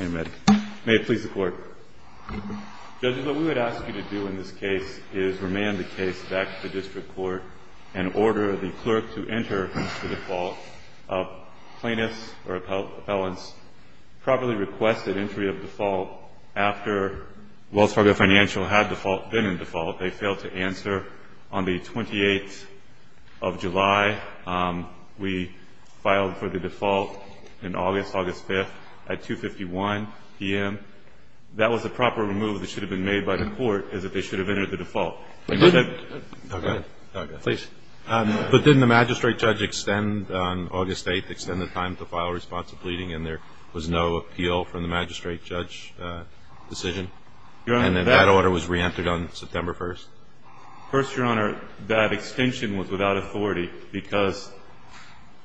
Judge, what we would ask you to do in this case is remand the case back to district court and order the clerk to enter the default. Plaintiffs or appellants properly requested entry of default after Wells Fargo Financial had been in default, they failed to answer. On the 28th of July, we filed for the default in August, August 5th, at 2.51 p.m. That was a proper move that should have been made by the court, is that they should have entered the default. But didn't the magistrate judge extend on August 8th, extend the time to file responsibility, and there was no appeal from the magistrate judge decision? And then that order was re-entered on September 1st? First, Your Honor, that extension was without authority because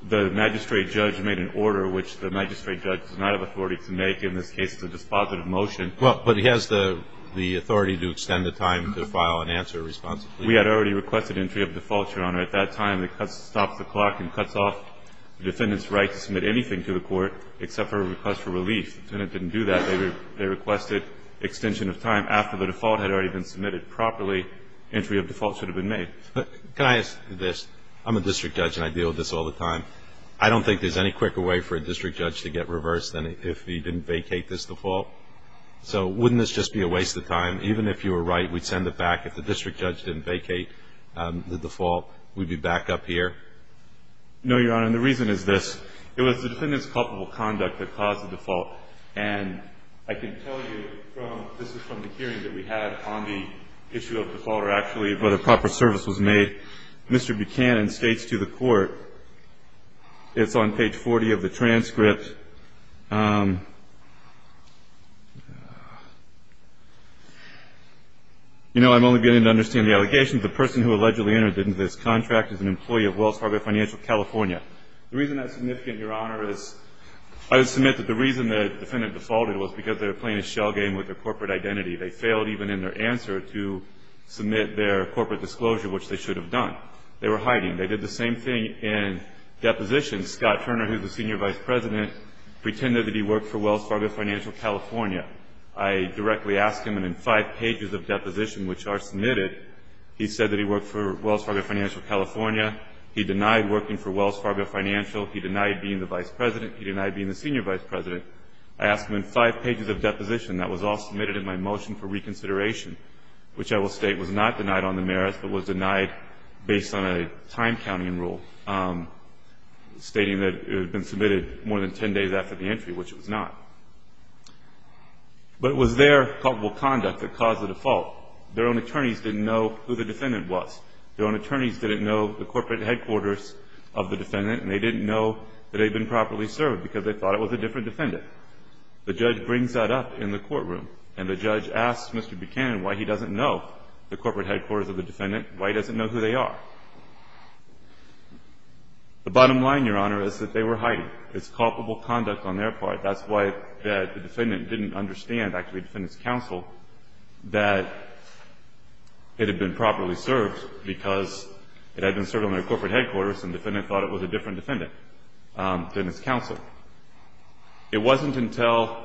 the magistrate judge made an order which the magistrate judge does not have authority to make. In this case, it's a dispositive motion. Well, but he has the authority to extend the time to file an answer responsibly. We had already requested entry of default, Your Honor. At that time, the clerk stops the clock and cuts off the defendant's right to submit anything to the court except for a request for relief. The defendant didn't do that. They requested extension of time after the default had already been submitted properly. Entry of default should have been made. Can I ask this? I'm a district judge and I deal with this all the time. I don't think there's any quicker way for a district judge to get reversed than if he didn't vacate this default. So wouldn't this just be a waste of time? Even if you were right, we'd send it back. If the district judge didn't vacate the default, we'd be back up here? No, Your Honor, and the reason is this. It was the defendant's culpable conduct that caused the default, and I can tell you from the hearing that we had on the issue of default or actually whether proper service was made, Mr. Buchanan states to the court, it's on page 40 of the transcript, you know, I'm only beginning to understand the allegations, the person who allegedly entered into this contract is an employee of Wells Fargo Financial California. The reason that's significant, Your Honor, is I would submit that the reason the defendant defaulted was because they were playing a shell game with their corporate identity. They failed even in their answer to submit their corporate disclosure, which they should have done. They were hiding. They did the same thing in deposition. Scott Turner, who's the senior vice president, pretended that he worked for Wells Fargo Financial California. I directly asked him, and in five pages of deposition, which are submitted, he said that he worked for Wells Fargo Financial California. He denied working for Wells Fargo Financial. He denied being the vice president. He denied being the senior vice president. I asked him in five pages of deposition that was all submitted in my motion for reconsideration, which I will state was not denied on the merits, but was denied based on a time counting rule, stating that it had been submitted more than 10 days after the entry, which it was not. But it was their culpable conduct that caused the default. Their own attorneys didn't know who the defendant was. Their own attorneys didn't know the corporate headquarters of the defendant, and they didn't know that they had been properly served because they thought it was a different defendant. The judge brings that up in the courtroom, and the judge asks Mr. Buchanan why he doesn't know the corporate headquarters of the defendant, why he doesn't know who they are. The bottom line, Your Honor, is that they were hiding. It's culpable conduct on their part. That's why the defendant didn't understand, actually the defendant's counsel, that it had been properly served because it had been served on their corporate headquarters and the defendant thought it was a different defendant than his counsel. It wasn't until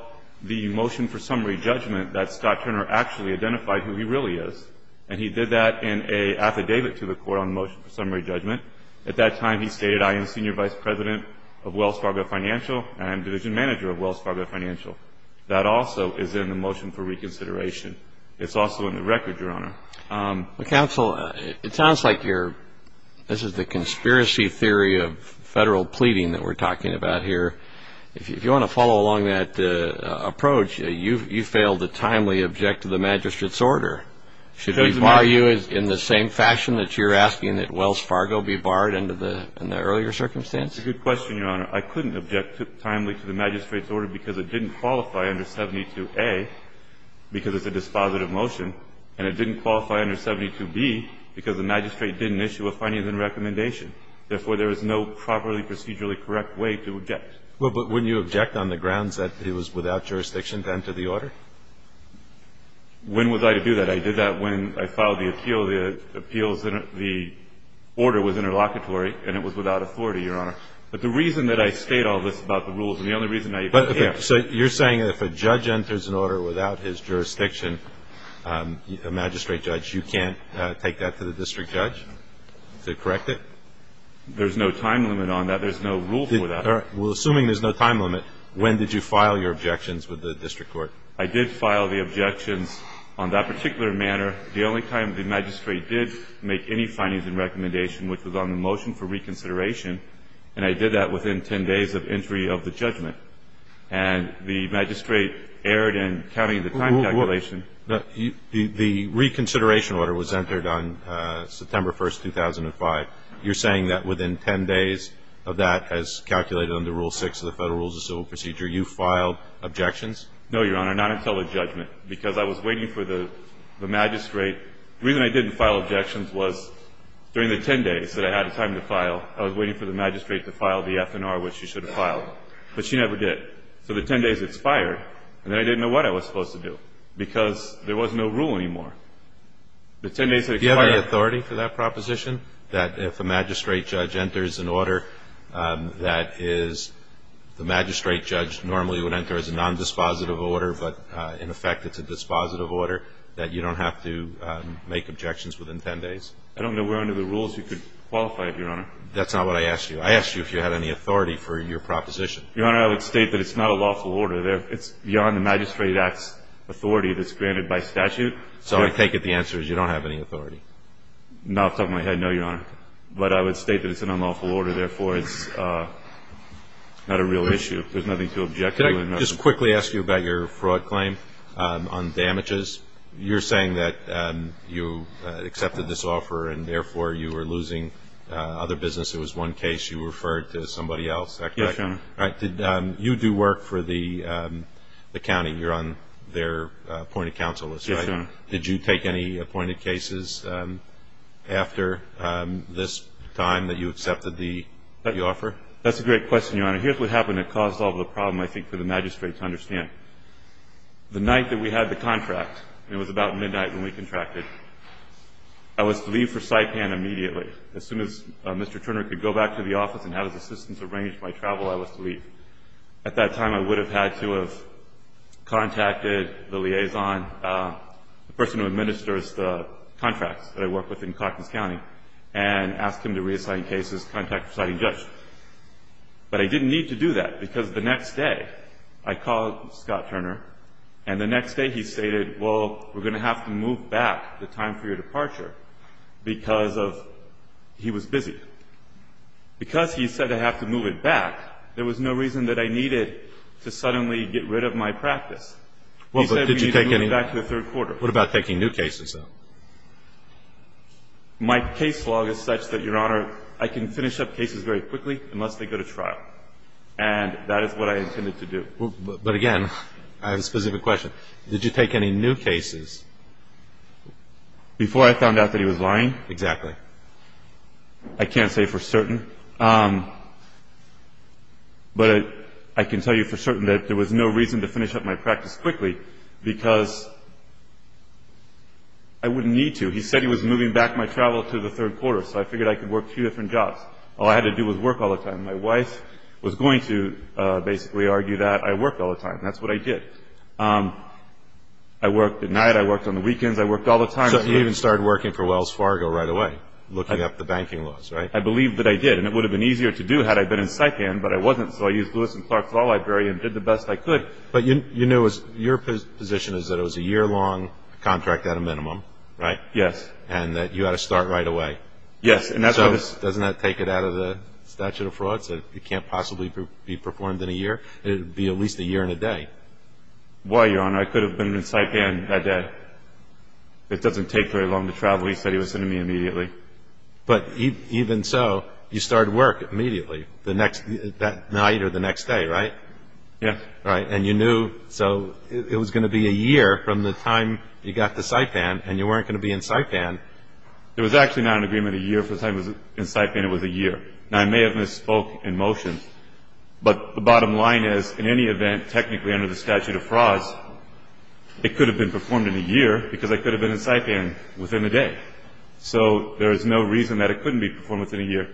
the motion for summary judgment that Scott Turner actually identified who he really is, and he did that in an affidavit to the court on the motion for summary judgment. At that time, he stated, I am senior vice president of Wells Fargo Financial, and I am division manager of Wells Fargo Financial. That also is in the motion for reconsideration. It's also in the record, Your Honor. Counsel, it sounds like this is the conspiracy theory of federal pleading that we're talking about here. If you want to follow along that approach, you failed to timely object to the magistrate's order. Should we bar you in the same fashion that you're asking that Wells Fargo be barred under the earlier circumstance? It's a good question, Your Honor. I couldn't object timely to the magistrate's order because it didn't qualify under 72A because it's a dispositive motion, and it didn't qualify under 72B because the magistrate didn't issue a findings and recommendation. Therefore, there is no properly procedurally correct way to object. Well, but wouldn't you object on the grounds that it was without jurisdiction to enter the order? When was I to do that? I did that when I filed the appeal. The order was interlocutory, and it was without authority, Your Honor. But the reason that I state all this about the rules, and the only reason I even care. So you're saying if a judge enters an order without his jurisdiction, a magistrate judge, you can't take that to the district judge to correct it? There's no time limit on that. There's no rule for that. All right. Well, assuming there's no time limit, when did you file your objections with the district court? I did file the objections on that particular manner the only time the magistrate did make any findings and recommendation, which was on the motion for reconsideration. And I did that within 10 days of entry of the judgment. And the magistrate erred in counting the time calculation. The reconsideration order was entered on September 1, 2005. You're saying that within 10 days of that as calculated under Rule 6 of the Federal Rules of Civil Procedure, you filed objections? No, Your Honor, not until the judgment, because I was waiting for the magistrate. The reason I didn't file objections was during the 10 days that I had time to file, I was waiting for the magistrate to file the FNR, which she should have filed. But she never did. So the 10 days expired, and then I didn't know what I was supposed to do, because there was no rule anymore. The 10 days that expired. Do you have any authority for that proposition, that if a magistrate judge enters an order that is the magistrate judge normally would enter as a nondispositive order, but in effect it's a dispositive order, that you don't have to make objections within 10 days? I don't know where under the rules you could qualify it, Your Honor. That's not what I asked you. I asked you if you had any authority for your proposition. Your Honor, I would state that it's not a lawful order. It's beyond the Magistrate Act's authority that's granted by statute. So I take it the answer is you don't have any authority? Not off the top of my head, no, Your Honor. But I would state that it's an unlawful order. Therefore, it's not a real issue. There's nothing to object to. Could I just quickly ask you about your fraud claim on damages? You're saying that you accepted this offer and, therefore, you were losing other business. It was one case. You referred to somebody else, is that correct? Yes, Your Honor. You do work for the county. You're on their appointed counsel list, right? Yes, Your Honor. Did you take any appointed cases after this time that you accepted the offer? That's a great question, Your Honor. Here's what happened that caused all the problem, I think, for the magistrate to understand. The night that we had the contract, and it was about midnight when we contracted, I was to leave for Saipan immediately. As soon as Mr. Turner could go back to the office and have his assistants arrange my travel, I was to leave. At that time, I would have had to have contacted the liaison, the person who administers the contracts that I work with in But I didn't need to do that because the next day I called Scott Turner, and the next day he stated, well, we're going to have to move back the time for your departure because of he was busy. Because he said I have to move it back, there was no reason that I needed to suddenly get rid of my practice. He said we need to move it back to the third quarter. What about taking new cases, though? My case law is such that, Your Honor, I can finish up cases very quickly unless they go to trial. And that is what I intended to do. But again, I have a specific question. Did you take any new cases? Before I found out that he was lying? Exactly. I can't say for certain. But I can tell you for certain that there was no reason to finish up my practice quickly because I wouldn't need to. He said he was moving back my travel to the third quarter, so I figured I could work two different jobs. All I had to do was work all the time. My wife was going to basically argue that I worked all the time. That's what I did. I worked at night. I worked on the weekends. I worked all the time. So you even started working for Wells Fargo right away, looking up the banking laws, right? I believe that I did, and it would have been easier to do had I been in Saipan, but I wasn't, so I used Lewis and Clark's law library and did the best I could. But your position is that it was a year-long contract at a minimum, right? Yes. And that you had to start right away. Yes. So doesn't that take it out of the statute of frauds that it can't possibly be performed in a year? It would be at least a year and a day. Why, Your Honor, I could have been in Saipan that day. It doesn't take very long to travel. He said he was sending me immediately. But even so, you started work immediately that night or the next day, right? Yes. Right, and you knew it was going to be a year from the time you got to Saipan and you weren't going to be in Saipan. It was actually not an agreement a year from the time I was in Saipan. It was a year. Now, I may have misspoke in motion, but the bottom line is, in any event, technically under the statute of frauds, it could have been performed in a year because I could have been in Saipan within a day. So there is no reason that it couldn't be performed within a year.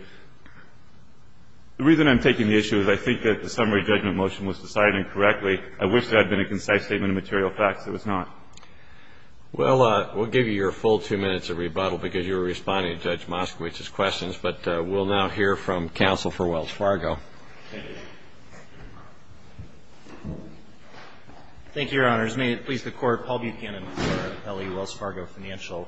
The reason I'm taking the issue is I think that the summary judgment motion was decided incorrectly. I wish there had been a concise statement of material facts. There was not. Well, we'll give you your full two minutes of rebuttal because you were responding to Judge Moskowitz's questions. But we'll now hear from counsel for Wells Fargo. Thank you. Thank you, Your Honors. May it please the Court, Paul Buchanan for L.A. Wells Fargo Financial.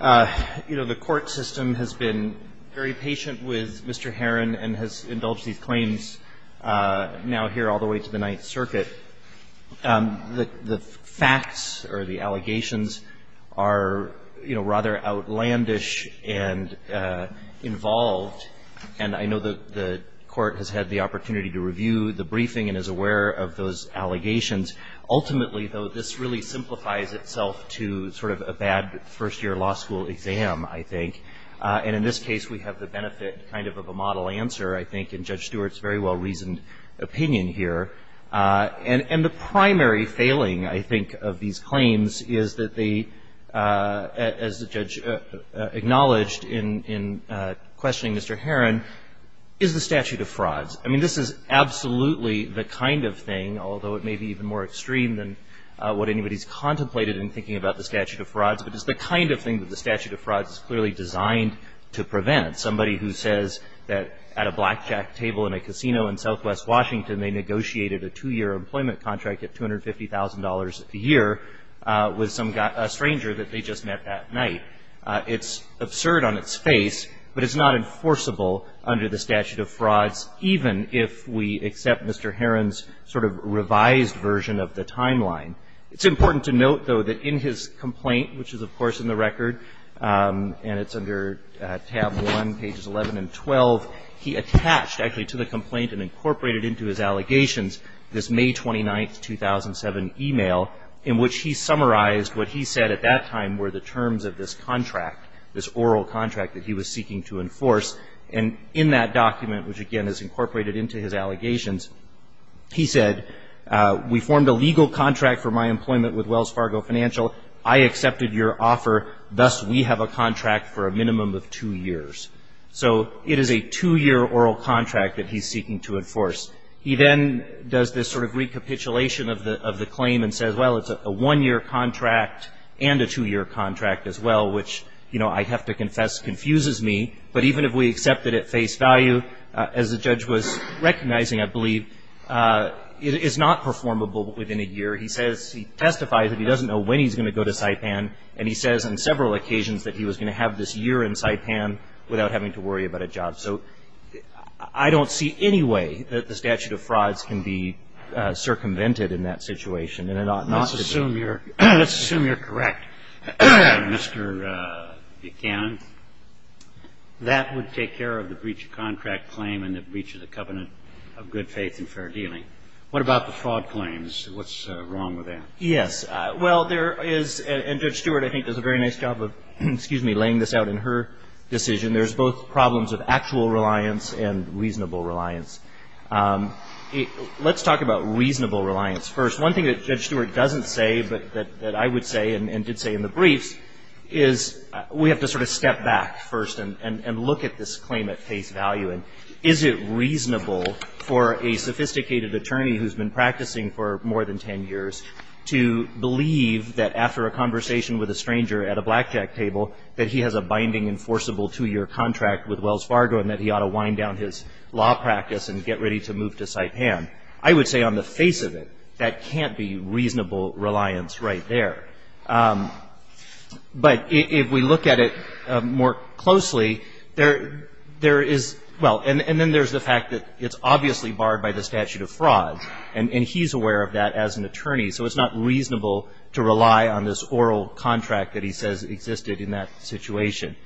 You know, the court system has been very patient with Mr. Herron and has indulged these claims now here all the way to the Ninth Circuit. The facts or the allegations are, you know, rather outlandish and involved, and I know that the court has had the opportunity to review the briefing and is aware of those allegations. Ultimately, though, this really simplifies itself to sort of a bad first-year law school exam, I think. And in this case, we have the benefit kind of of a model answer, I think, in Judge Stewart's very well-reasoned opinion here. And the primary failing, I think, of these claims is that they, as the judge acknowledged in questioning Mr. Herron, is the statute of frauds. I mean, this is absolutely the kind of thing, although it may be even more extreme than what anybody's contemplated in thinking about the statute of frauds, but it's the kind of thing that the statute of frauds is clearly designed to prevent. Somebody who says that at a blackjack table in a casino in southwest Washington they negotiated a two-year employment contract at $250,000 a year with a stranger that they just met that night, it's absurd on its face, but it's not enforceable under the statute of frauds, even if we accept Mr. Herron's sort of revised version of the timeline. It's important to note, though, that in his complaint, which is, of course, in the record, and it's under tab 1, pages 11 and 12, he attached actually to the complaint and incorporated into his allegations this May 29, 2007, e-mail in which he summarized what he said at that time were the terms of this contract, this oral contract that he was seeking to enforce. And in that document, which, again, is incorporated into his allegations, he said, we formed a legal contract for my employment with Wells Fargo Financial. I accepted your offer. Thus, we have a contract for a minimum of two years. So it is a two-year oral contract that he's seeking to enforce. He then does this sort of recapitulation of the claim and says, well, it's a one-year contract and a two-year contract as well, which, you know, I have to confess confuses me, but even if we accept it at face value, as the judge was recognizing, I believe, it is not performable within a year. He says he testifies that he doesn't know when he's going to go to Saipan, and he says on several occasions that he was going to have this year in Saipan without having to worry about a job. So I don't see any way that the statute of frauds can be circumvented in that situation, and it ought not to be. Let's assume you're correct, Mr. Buchanan. That would take care of the breach of contract claim and the breach of the covenant of good faith and fair dealing. What about the fraud claims? What's wrong with that? Yes. Well, there is, and Judge Stewart, I think, does a very nice job of laying this out in her decision. There's both problems of actual reliance and reasonable reliance. Let's talk about reasonable reliance first. One thing that Judge Stewart doesn't say, but that I would say and did say in the briefs, is we have to sort of step back first and look at this claim at face value. And is it reasonable for a sophisticated attorney who's been practicing for more than ten years to believe that after a conversation with a stranger at a blackjack table that he has a binding enforceable two-year contract with Wells Fargo and that he ought to wind down his law practice and get ready to move to Saipan? I would say on the face of it, that can't be reasonable reliance right there. But if we look at it more closely, there is, well, and then there's the fact that it's obviously barred by the statute of fraud. And he's aware of that as an attorney. So it's not reasonable to rely on this oral contract that he says existed in that situation.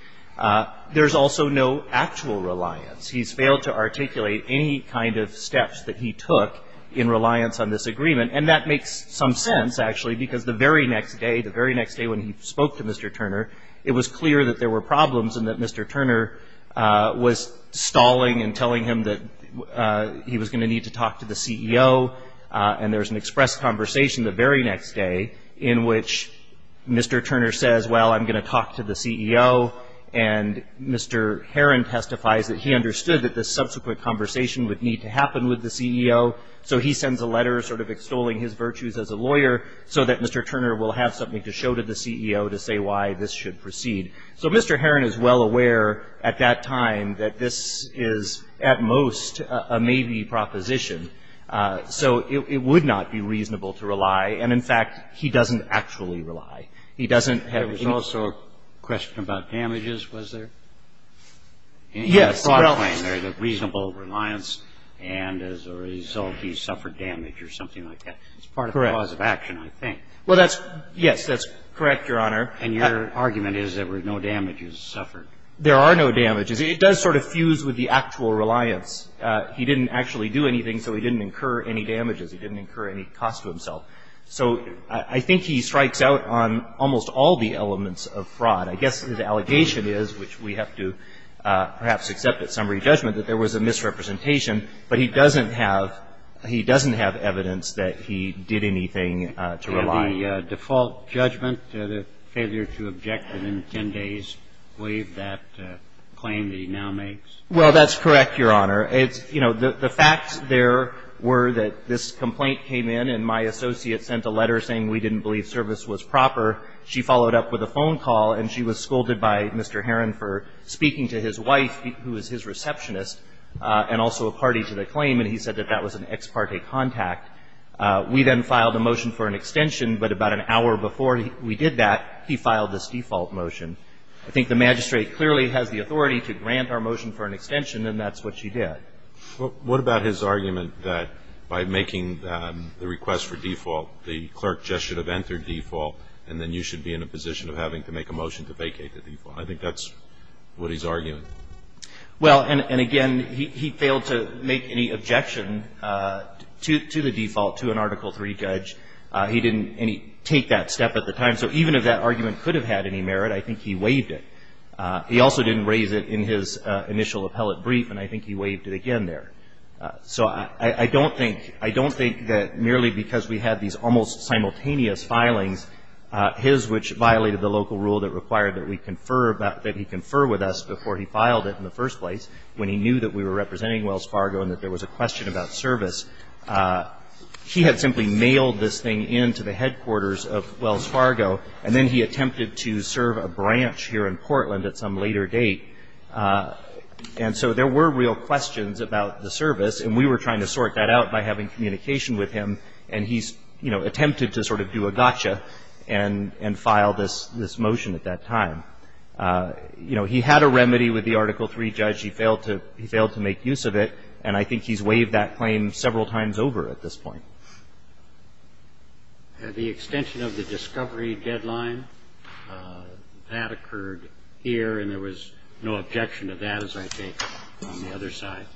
There's also no actual reliance. He's failed to articulate any kind of steps that he took in reliance on this agreement. And that makes some sense, actually, because the very next day, the very next day when he spoke to Mr. Turner, it was clear that there were problems and that Mr. Turner was stalling and telling him that he was going to need to talk to the CEO. And there was an express conversation the very next day in which Mr. Turner and Mr. Heron testified that he understood that the subsequent conversation would need to happen with the CEO. So he sends a letter sort of extolling his virtues as a lawyer so that Mr. Turner will have something to show to the CEO to say why this should proceed. So Mr. Heron is well aware at that time that this is at most a maybe proposition. So it would not be reasonable to rely. And, in fact, he doesn't actually rely. He doesn't have any ---- There was also a question about damages, was there? Well ---- In his broad claim there is a reasonable reliance, and as a result he suffered damage or something like that. Correct. It's part of the cause of action, I think. Well, that's ---- Yes, that's correct, Your Honor. And your argument is there were no damages suffered. There are no damages. It does sort of fuse with the actual reliance. He didn't actually do anything, so he didn't incur any damages. He didn't incur any cost to himself. So I think he strikes out on almost all the elements of fraud. I guess his allegation is, which we have to perhaps accept at summary judgment, that there was a misrepresentation, but he doesn't have ---- he doesn't have evidence that he did anything to rely. And the default judgment, the failure to object within 10 days, waive that claim that he now makes? Well, that's correct, Your Honor. It's, you know, the facts there were that this complaint came in, and my associate sent a letter saying we didn't believe service was proper. She followed up with a phone call, and she was scolded by Mr. Herron for speaking to his wife, who was his receptionist, and also a party to the claim, and he said that that was an ex parte contact. We then filed a motion for an extension, but about an hour before we did that, he filed this default motion. I think the magistrate clearly has the authority to grant our motion for an extension, and that's what she did. What about his argument that by making the request for default, the clerk just should have entered default, and then you should be in a position of having to make a motion to vacate the default? I think that's what he's arguing. Well, and again, he failed to make any objection to the default, to an Article III judge. He didn't take that step at the time. So even if that argument could have had any merit, I think he waived it. He also didn't raise it in his initial appellate brief, and I think he waived it again there. So I don't think, I don't think that merely because we had these almost simultaneous filings, his which violated the local rule that required that we confer, that he confer with us before he filed it in the first place, when he knew that we were representing Wells Fargo and that there was a question about service, he had simply mailed this thing in to the headquarters of Wells Fargo, and then he attempted to serve a branch here in Portland at some later date. And so there were real questions about the service, and we were trying to sort that out by having communication with him, and he, you know, attempted to sort of do a gotcha and file this motion at that time. You know, he had a remedy with the Article III judge. He failed to make use of it, and I think he's waived that claim several times over at this point. And the extension of the discovery deadline, that occurred here, and there was no objection to that, as I think, on the other side.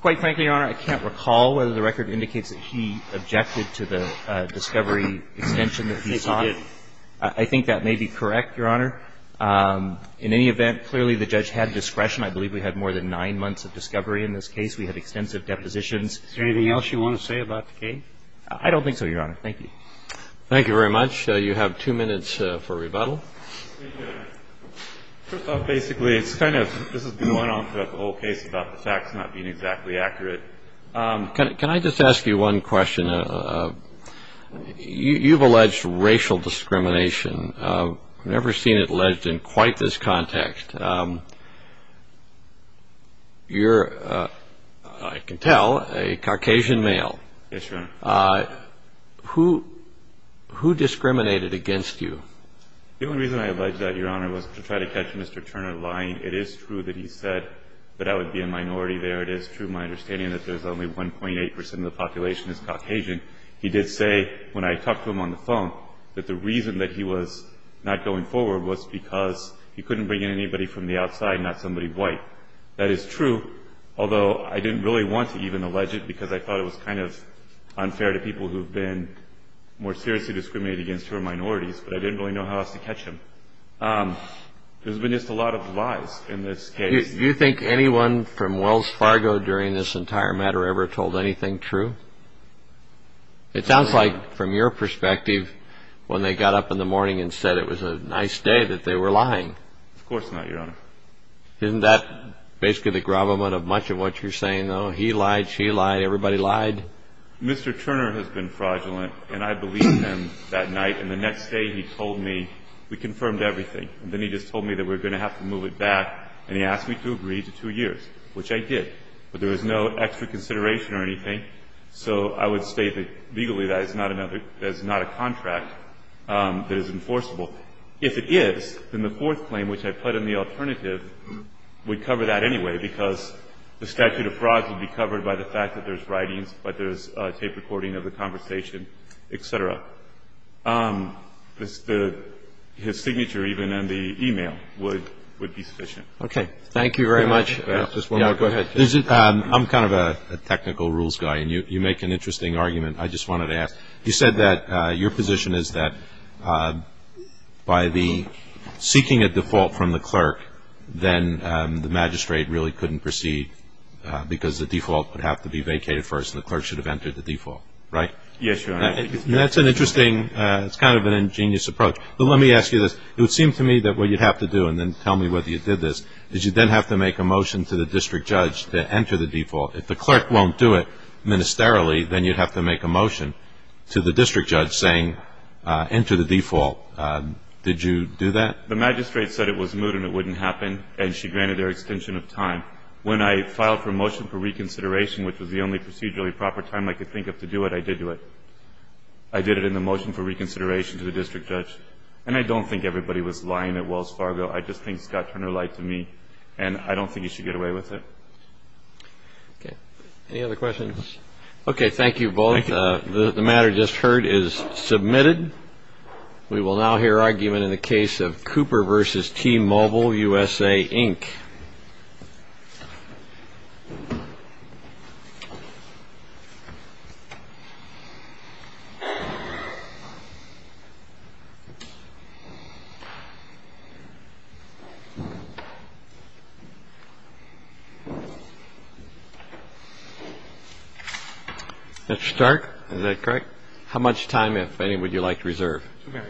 Quite frankly, Your Honor, I can't recall whether the record indicates that he objected to the discovery extension that he sought. I think he did. I think that may be correct, Your Honor. In any event, clearly the judge had discretion. I believe we had more than nine months of discovery in this case. We had extensive depositions. Is there anything else you want to say about the case? I don't think so, Your Honor. Thank you. Thank you very much. You have two minutes for rebuttal. First off, basically, it's kind of – this has been going on throughout the whole case about the facts not being exactly accurate. Can I just ask you one question? You've alleged racial discrimination. I've never seen it alleged in quite this context. You're, I can tell, a Caucasian male. Yes, Your Honor. Who discriminated against you? The only reason I alleged that, Your Honor, was to try to catch Mr. Turner lying. It is true that he said that I would be a minority there. It is true in my understanding that there's only 1.8 percent of the population is Caucasian. He did say, when I talked to him on the phone, that the reason that he was not going forward was because he couldn't bring in anybody from the outside, not somebody white. That is true, although I didn't really want to even allege it because I thought it was kind of unfair to people who have been more seriously discriminated against who are minorities, but I didn't really know how else to catch him. There's been just a lot of lies in this case. Do you think anyone from Wells Fargo during this entire matter ever told anything true? It sounds like, from your perspective, when they got up in the morning and said it was a nice day, that they were lying. Of course not, Your Honor. Isn't that basically the gravamen of much of what you're saying, though? He lied, she lied, everybody lied? Mr. Turner has been fraudulent, and I believed him that night, and the next day he told me we confirmed everything, and then he just told me that we were going to have to move it back, and he asked me to agree to two years, which I did, but there was no extra consideration or anything, so I would state that legally that is not a contract that is enforceable. If it is, then the fourth claim, which I put in the alternative, would cover that anyway because the statute of frauds would be covered by the fact that there's writings, but there's a tape recording of the conversation, et cetera. His signature even in the e-mail would be sufficient. Okay, thank you very much. Can I ask just one more question? Yeah, go ahead. I'm kind of a technical rules guy, and you make an interesting argument. I just wanted to ask. You said that your position is that by the seeking a default from the clerk, then the magistrate really couldn't proceed because the default would have to be vacated first, and the clerk should have entered the default, right? Yes, Your Honor. That's an interesting, it's kind of an ingenious approach, but let me ask you this. It would seem to me that what you'd have to do, and then tell me whether you did this, is you'd then have to make a motion to the district judge to enter the default. If the clerk won't do it ministerially, then you'd have to make a motion to the district judge saying enter the default. Did you do that? The magistrate said it was moot and it wouldn't happen, and she granted their extension of time. When I filed for a motion for reconsideration, which was the only procedurally proper time I could think of to do it, I did do it. I did it in the motion for reconsideration to the district judge, and I don't think everybody was lying at Wells Fargo. I just think Scott Turner lied to me, and I don't think you should get away with it. Okay. Any other questions? Okay. Thank you both. The matter just heard is submitted. We will now hear argument in the case of Cooper v. T-Mobile USA, Inc. Mr. Stark, is that correct? How much time, if any, would you like to reserve? Two minutes.